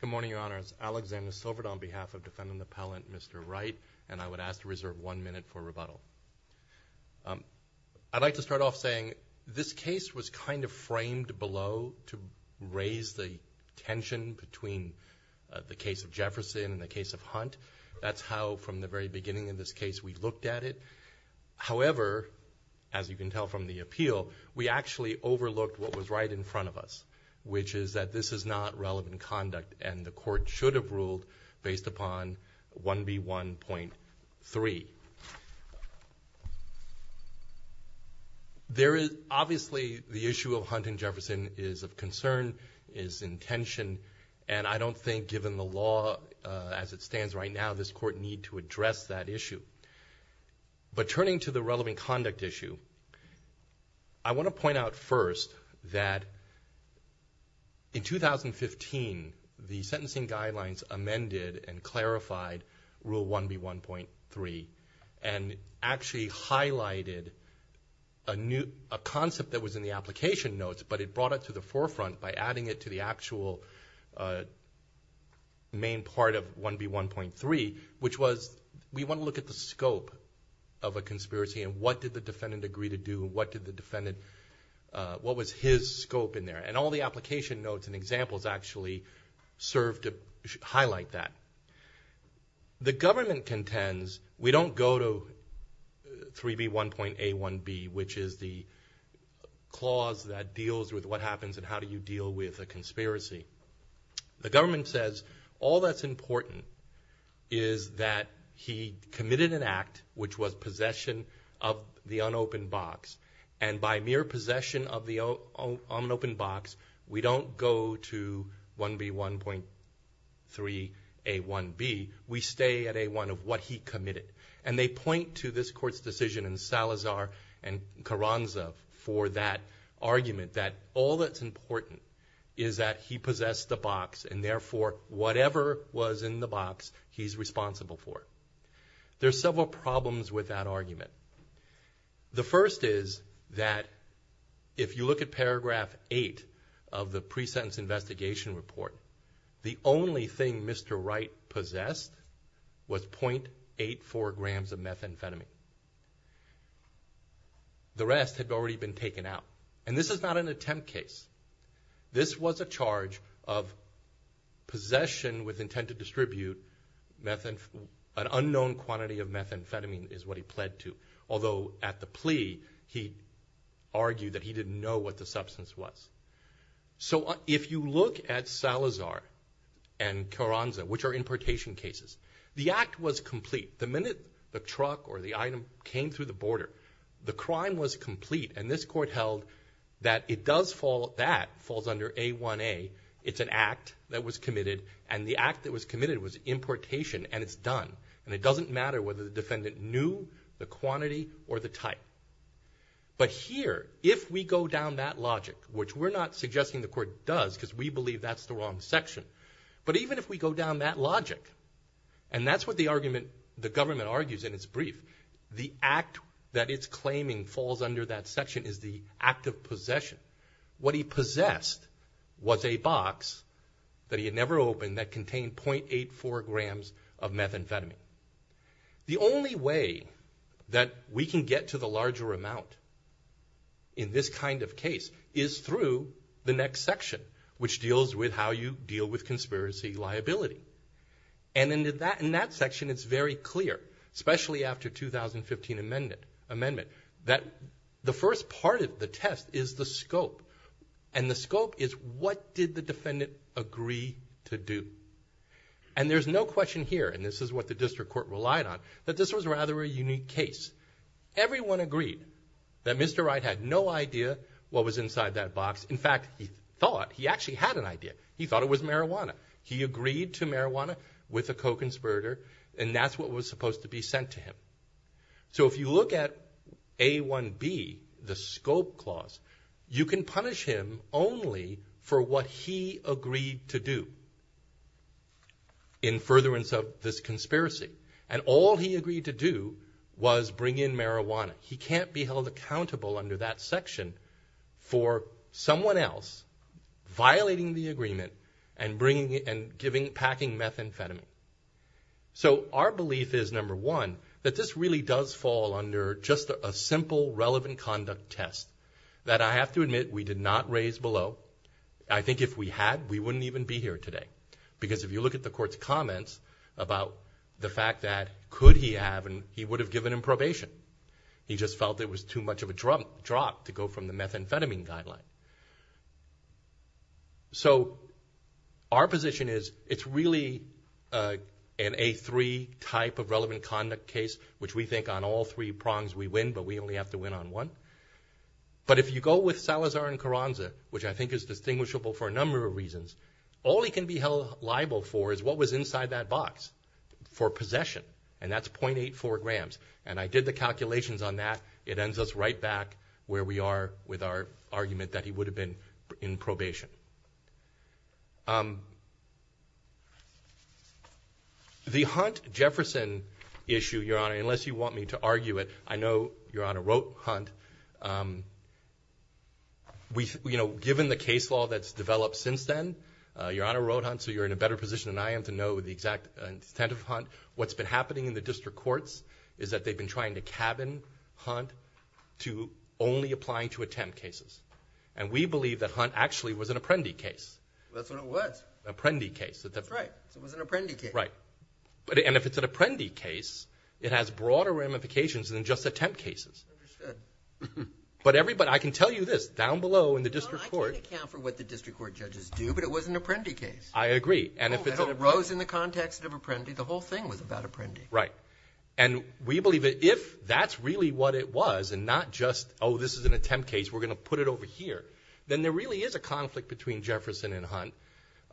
Good morning, Your Honors. Alexander Silver on behalf of Defendant Appellant Mr. Wright and I would ask to reserve one minute for rebuttal. I'd like to start off saying this case was kind of framed below to raise the tension between the case of Jefferson and the case of Hunt. That's how from the very beginning of this case we looked at it. However, as you can tell from the appeal, we actually overlooked what was right in front of us, which is that this is not relevant conduct and the court should have ruled based upon 1B1.3. There is obviously the issue of Hunt and Jefferson is of concern, is in tension, and I don't think given the law as it stands right now, this court need to address that issue. But turning to the relevant conduct issue, I want to point out first that Hunt in 2015, the sentencing guidelines amended and clarified Rule 1B1.3 and actually highlighted a concept that was in the application notes, but it brought it to the forefront by adding it to the actual main part of 1B1.3, which was we want to look at the scope of a conspiracy and what did the defendant agree to do and what did the defendant, what was his scope in there? And all the application notes and examples actually serve to highlight that. The government contends we don't go to 3B1.A1B, which is the clause that deals with what happens and how do you deal with a conspiracy. The government says all that's important is that he committed an act which was possession of the unopened box and by mere possession of an open box, we don't go to 1B1.3A1B, we stay at A1 of what he committed. And they point to this court's decision in Salazar and Carranza for that argument that all that's important is that he possessed the box and therefore whatever was in the box, he's responsible for. There's several problems with that argument. The first is that if you look at paragraph eight of the pre-sentence investigation report, the only thing Mr. Wright possessed was .84 grams of methamphetamine. The rest had already been taken out. And this is not an attempt case. This was a charge of possession with intent to distribute an unknown quantity of methamphetamine is what he pled to. Although at the plea, he argued that he didn't know what the substance was. So if you look at Salazar and Carranza, which are importation cases, the act was complete. The minute the truck or the item came through the border, the crime was complete and this court held that it does fall, that falls under A1A. It's an act that was committed and the act that was committed was importation and it's done. And it doesn't matter whether the defendant knew the quantity or the type. But here, if we go down that logic, which we're not suggesting the court does because we believe that's the wrong section, but even if we go down that logic, and that's what the government argues in its brief, the act that it's claiming falls under that section is the act of possession. What he possessed was a box that he had never opened that contained .84 grams of methamphetamine. The only way that we can get to the larger amount in this kind of case is through the next section, which deals with how you deal with conspiracy liability. And in that section, it's very clear, especially after 2015 amendment, that the first part of the test is the scope and the scope is what did the defendant agree to do? And there's no question here, and this is what the district court relied on, that this was rather a unique case. Everyone agreed that Mr. Wright had no idea what was inside that box. In fact, he thought, he actually had an idea. He thought it was marijuana. He agreed to marijuana with a co-conspirator and that's what was supposed to be sent to him. So if you look at A1B, the scope clause, you can punish him only for what he agreed to do. In furtherance of this concern, the conspiracy. And all he agreed to do was bring in marijuana. He can't be held accountable under that section for someone else violating the agreement and packing methamphetamine. So our belief is, number one, that this really does fall under just a simple relevant conduct test that I have to admit we did not raise below. I think if we had, we wouldn't even be here today. Because if you look at the court's comments about the fact that could he have and he would have given him probation. He just felt it was too much of a drop to go from the methamphetamine guideline. So our position is, it's really an A3 type of relevant conduct case, which we think on all three prongs we win, but we only have to win on one. But if you go with Salazar and Carranza, which I think is distinguishable for a number of reasons, all he can be held liable for is what was inside that box for possession. And that's .84 grams. And I did the calculations on that. It ends us right back where we are with our argument that he would have been in probation. The Hunt-Jefferson issue, Your Honor, unless you want me to argue it, I know Your Honor wrote Hunt. Given the case law that's developed since then, Your Honor wrote Hunt, so you're in a better position than I am to know the exact intent of Hunt. What's been happening in the district courts is that they've been trying to cabin Hunt to only applying to attempt cases. And we believe that Hunt actually was an apprendi case. That's what it was. Apprendi case. That's right. It was an apprendi case. Right. And if it's an apprendi case, it has broader ramifications than just attempt cases. But everybody, I can tell you this, down below in the district court. Your Honor, I can't account for what the district court judges do, but it was an apprendi case. I agree. And it arose in the context of apprendi. The whole thing was about apprendi. Right. And we believe that if that's really what it was and not just, oh, this is an attempt case, we're going to put it over here, then there really is a conflict between Jefferson and Hunt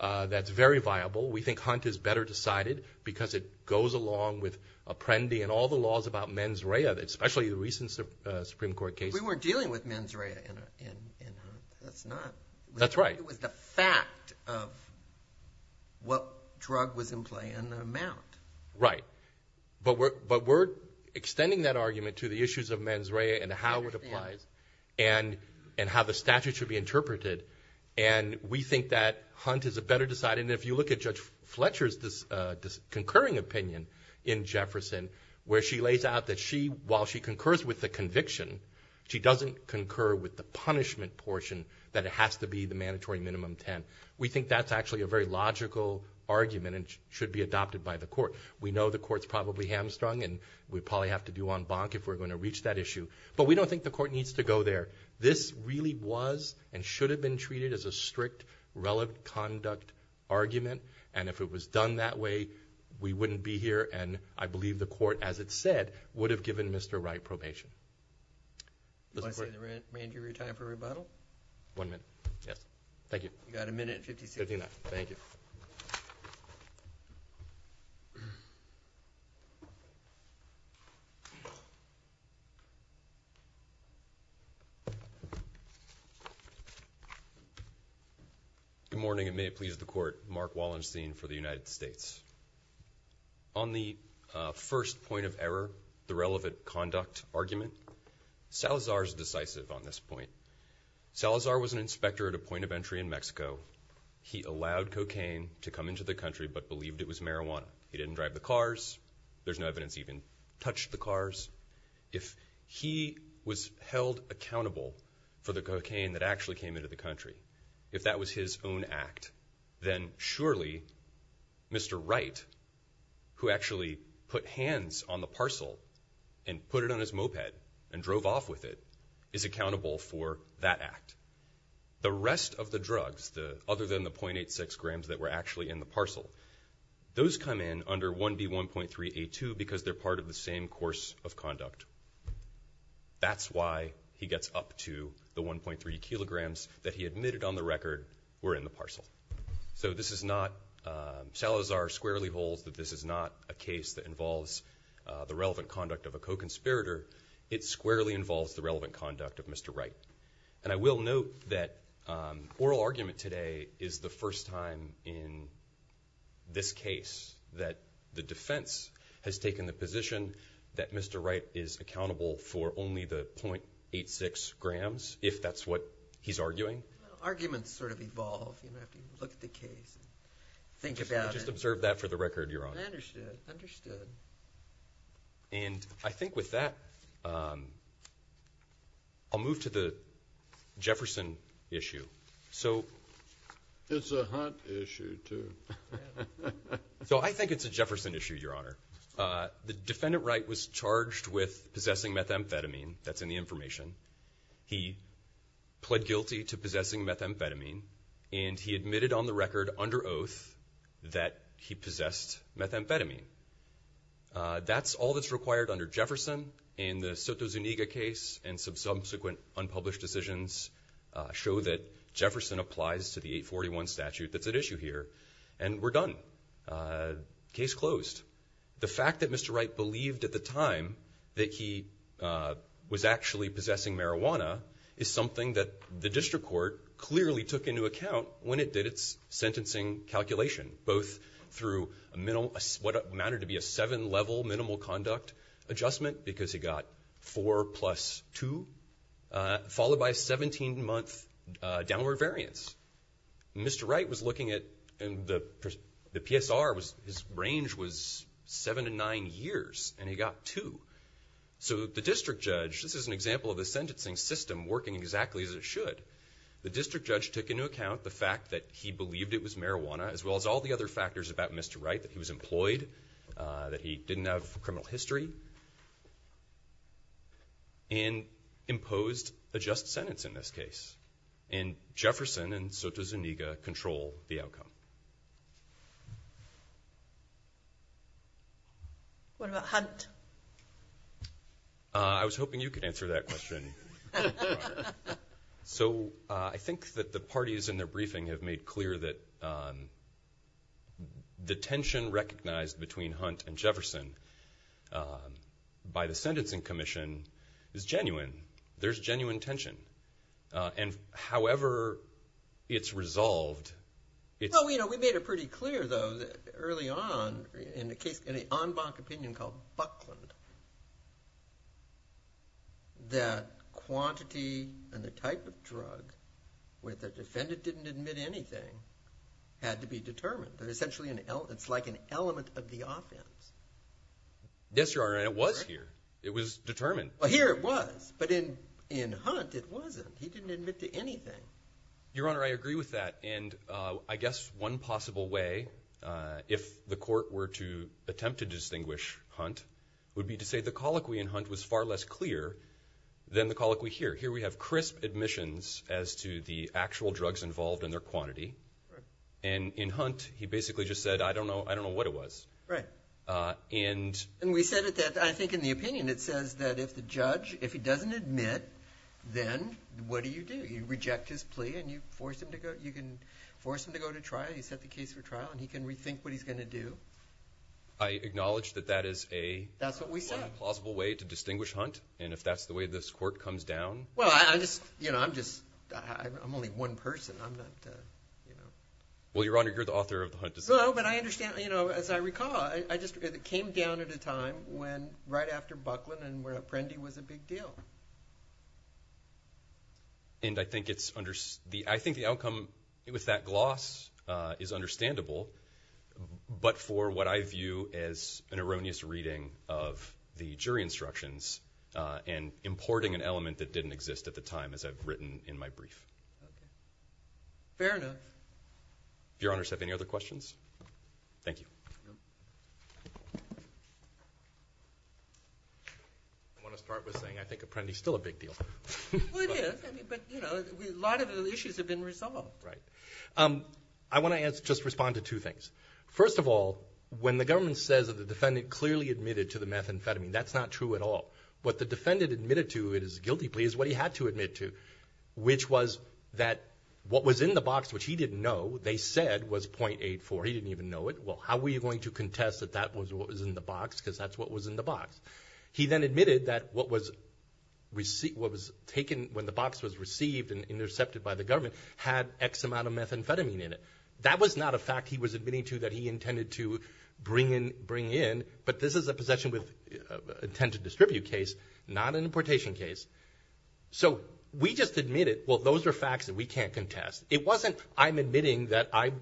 that's very viable. We think Hunt is better decided because it goes along with apprendi and all the laws about mens rea, especially the recent Supreme Court case. We weren't dealing with mens rea in Hunt. That's not. That's right. It was the fact of what drug was in play and the amount. Right. But we're extending that argument to the issues of mens rea and how it applies and how the statute should be interpreted. And we think that Hunt is a better decided. And if you look at Judge Fletcher's concurring opinion in Jefferson, where she lays out that she, while she concurs with the conviction, she doesn't concur with the punishment portion that it has to be the mandatory minimum 10. We think that's actually a very logical argument and should be adopted by the court. We know the court's probably hamstrung and we probably have to do en banc if we're going to reach that issue. But we don't think the court needs to go there. This really was and should have been treated as a strict, relevant conduct argument. And if it was done that way, we wouldn't be here. And I believe the court, as it said, would have given Mr. Wright probation. Do you want to say the remainder of your time for rebuttal? One minute. Yes. Thank you. You've got a minute and fifty-six seconds. Fifty-nine. Thank you. Good morning and may it please the court. Mark Wallenstein for the United States. On the first point of error, the relevant conduct argument, Salazar's decisive on this point. Salazar was an inspector at a point of entry in Mexico. He allowed cocaine to come into the country but believed it was marijuana. He didn't drive the cars. There's no evidence he even touched the cars. If he was held accountable for the cocaine that actually came into the country, if that was his own act, then surely Mr. Wright, who actually put hands on the parcel and put it on his moped and drove off with it, is accountable for that act. The rest of the drugs, other than the .86 grams that were actually in the parcel, those come in under 1B1.3A2 because they're part of the same course of conduct. That's why he gets up to the 1.3 kilograms that he admitted on the record were in the parcel. Salazar squarely holds that this is not a case that involves the relevant conduct of a co-conspirator. It squarely involves the relevant conduct of Mr. Wright. And I will note that oral argument today is the first time in this case that the defense has taken the position that Mr. Wright is accountable for only the .86 grams, if that's what he's arguing. Arguments sort of evolve. You have to look at the case and think about it. Just observe that for the record, Your Honor. Understood. And I think with that, I'll move to the Jefferson issue. It's a hot issue, too. So I think it's a Jefferson issue, Your Honor. The defendant Wright was charged with possessing methamphetamine. That's in the information. He pled guilty to possessing methamphetamine, and he admitted on the record under oath that he possessed methamphetamine. That's all that's required under Jefferson in the Soto Zuniga case, and some subsequent unpublished decisions show that Jefferson applies to the 841 statute that's at issue here. And we're done. Case closed. The fact that Mr. Wright believed at the time that he was actually possessing marijuana is something that the district court clearly took into account when it did its sentencing calculation, both through what amounted to be a seven-level minimal conduct adjustment, because he got four plus two, followed by a 17-month downward variance. Mr. Wright was looking at the PSR. His range was seven to nine years, and he got two. So the district judge, this is an example of the sentencing system working exactly as it should. The district judge took into account the fact that he believed it was marijuana, as well as all the other factors about Mr. Wright, that he was employed, that he didn't have criminal history, and imposed a just sentence in this case. And Jefferson and Soto Zuniga control the outcome. What about Hunt? I was hoping you could answer that question. So I think that the parties in their briefing have made clear that the tension recognized between Hunt and Jefferson, by the Sentencing Commission, is genuine. There's genuine tension. And however it's resolved, it's... Well, you know, we made it pretty clear, though, that early on, in an en banc opinion called Buckland, that quantity and the type of drug, where the defendant didn't admit anything, had to be determined. It's like an element of the offense. Yes, Your Honor, and it was here. It was determined. Well, here it was. But in Hunt, it wasn't. He didn't admit to anything. Your Honor, I agree with that. And I guess one possible way, if the court were to attempt to distinguish Hunt, would be to say the colloquy in Hunt was far less clear than the colloquy here. Here we have crisp admissions as to the actual drugs involved and their quantity. And in Hunt, he basically just said, I don't know what it was. Right. And... And we said that I think in the opinion it says that if the judge, if he doesn't admit, then what do you do? You reject his plea and you force him to go to trial. You set the case for trial and he can rethink what he's going to do. I acknowledge that that is a plausible way to distinguish Hunt. And if that's the way this court comes down... Well, I just, you know, I'm just, I'm only one person. I'm not, you know... Well, Your Honor, you're the author of the Hunt decision. So, but I understand, you know, as I recall, I just, it came down at a time when, right after Buckland and where Apprendi was a big deal. And I think it's, I think the outcome with that gloss is understandable, but for what I view as an erroneous reading of the jury instructions and importing an element that didn't exist at the time, as I've written in my brief. Fair enough. Your Honor, do you have any other questions? Thank you. I want to start with saying I think Apprendi's still a big deal. Well, it is. I mean, but, you know, a lot of the issues have been resolved. Right. I want to just respond to two things. First of all, when the government says that the defendant clearly admitted to the methamphetamine, that's not true at all. What the defendant admitted to, it is a guilty plea, is what he had to admit to, which was that what was in the box, which he didn't know, they said was .84. He didn't even know it. Well, how were you going to contest that that was what was in the box, because that's what was in the box. He then admitted that what was taken when the box was received and intercepted by the government had X amount of methamphetamine in it. That was not a fact he was admitting to that he intended to bring in, but this is a possession with intent to distribute case, not an importation case. So we just admitted, well, those are facts that we can't contest. It wasn't I'm admitting that I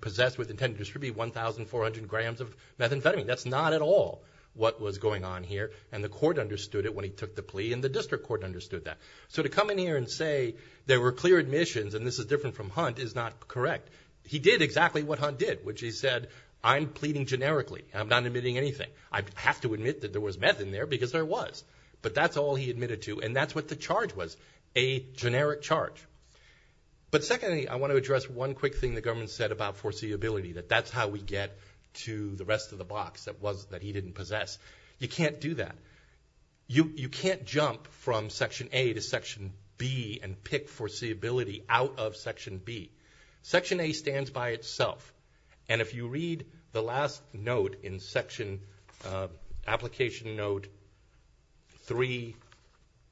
possess with intent to distribute 1,400 grams of methamphetamine. That's not at all what was going on here, and the court understood it when he took the plea and the district court understood that. So to come in here and say there were clear admissions and this is different from Hunt is not correct. He did exactly what Hunt did, which he said, I'm pleading generically. I'm not admitting anything. I have to admit that there was meth in there because there was, but that's all he admitted to and that's what the charge was, a generic charge. But secondly, I want to address one quick thing the government said about foreseeability, that that's how we get to the rest of the box that he didn't possess. You can't do that. You can't jump from Section A to Section B and pick foreseeability out of Section B. Section A stands by itself, and if you read the last note in Application Note 3,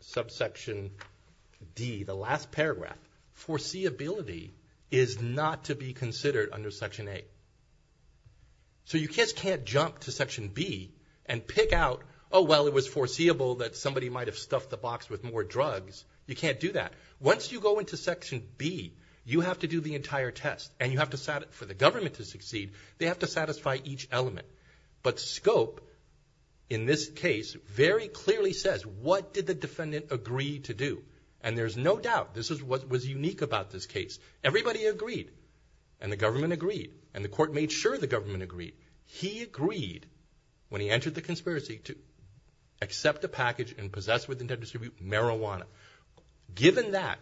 subsection D, the last paragraph, foreseeability is not to be considered under Section A. So you just can't jump to Section B and pick out, oh, well, it was foreseeable that somebody might have stuffed the box with more drugs. You can't do that. Once you go into Section B, you have to do the entire test, and for the government to succeed, they have to satisfy each element. But scope in this case very clearly says what did the defendant agree to do, and there's no doubt this is what was unique about this case. Everybody agreed, and the government agreed, and the court made sure the government agreed. He agreed, when he entered the conspiracy, to accept a package and possess with intent to distribute marijuana. Given that,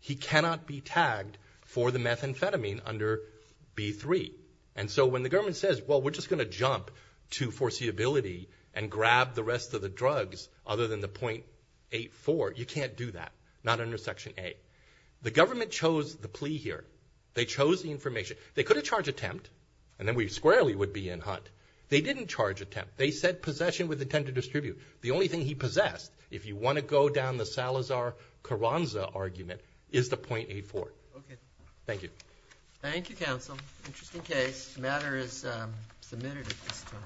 he cannot be tagged for the methamphetamine under B3. And so when the government says, well, we're just going to jump to foreseeability and grab the rest of the drugs other than the .84, you can't do that. Not under Section A. The government chose the plea here. They chose the information. They could have charged attempt, and then we squarely would be in Hunt. They didn't charge attempt. They said possession with intent to distribute. The only thing he possessed, if you want to go down the Salazar-Caranza argument, is the .84. Thank you. Thank you, counsel. Interesting case. The matter is submitted at this time.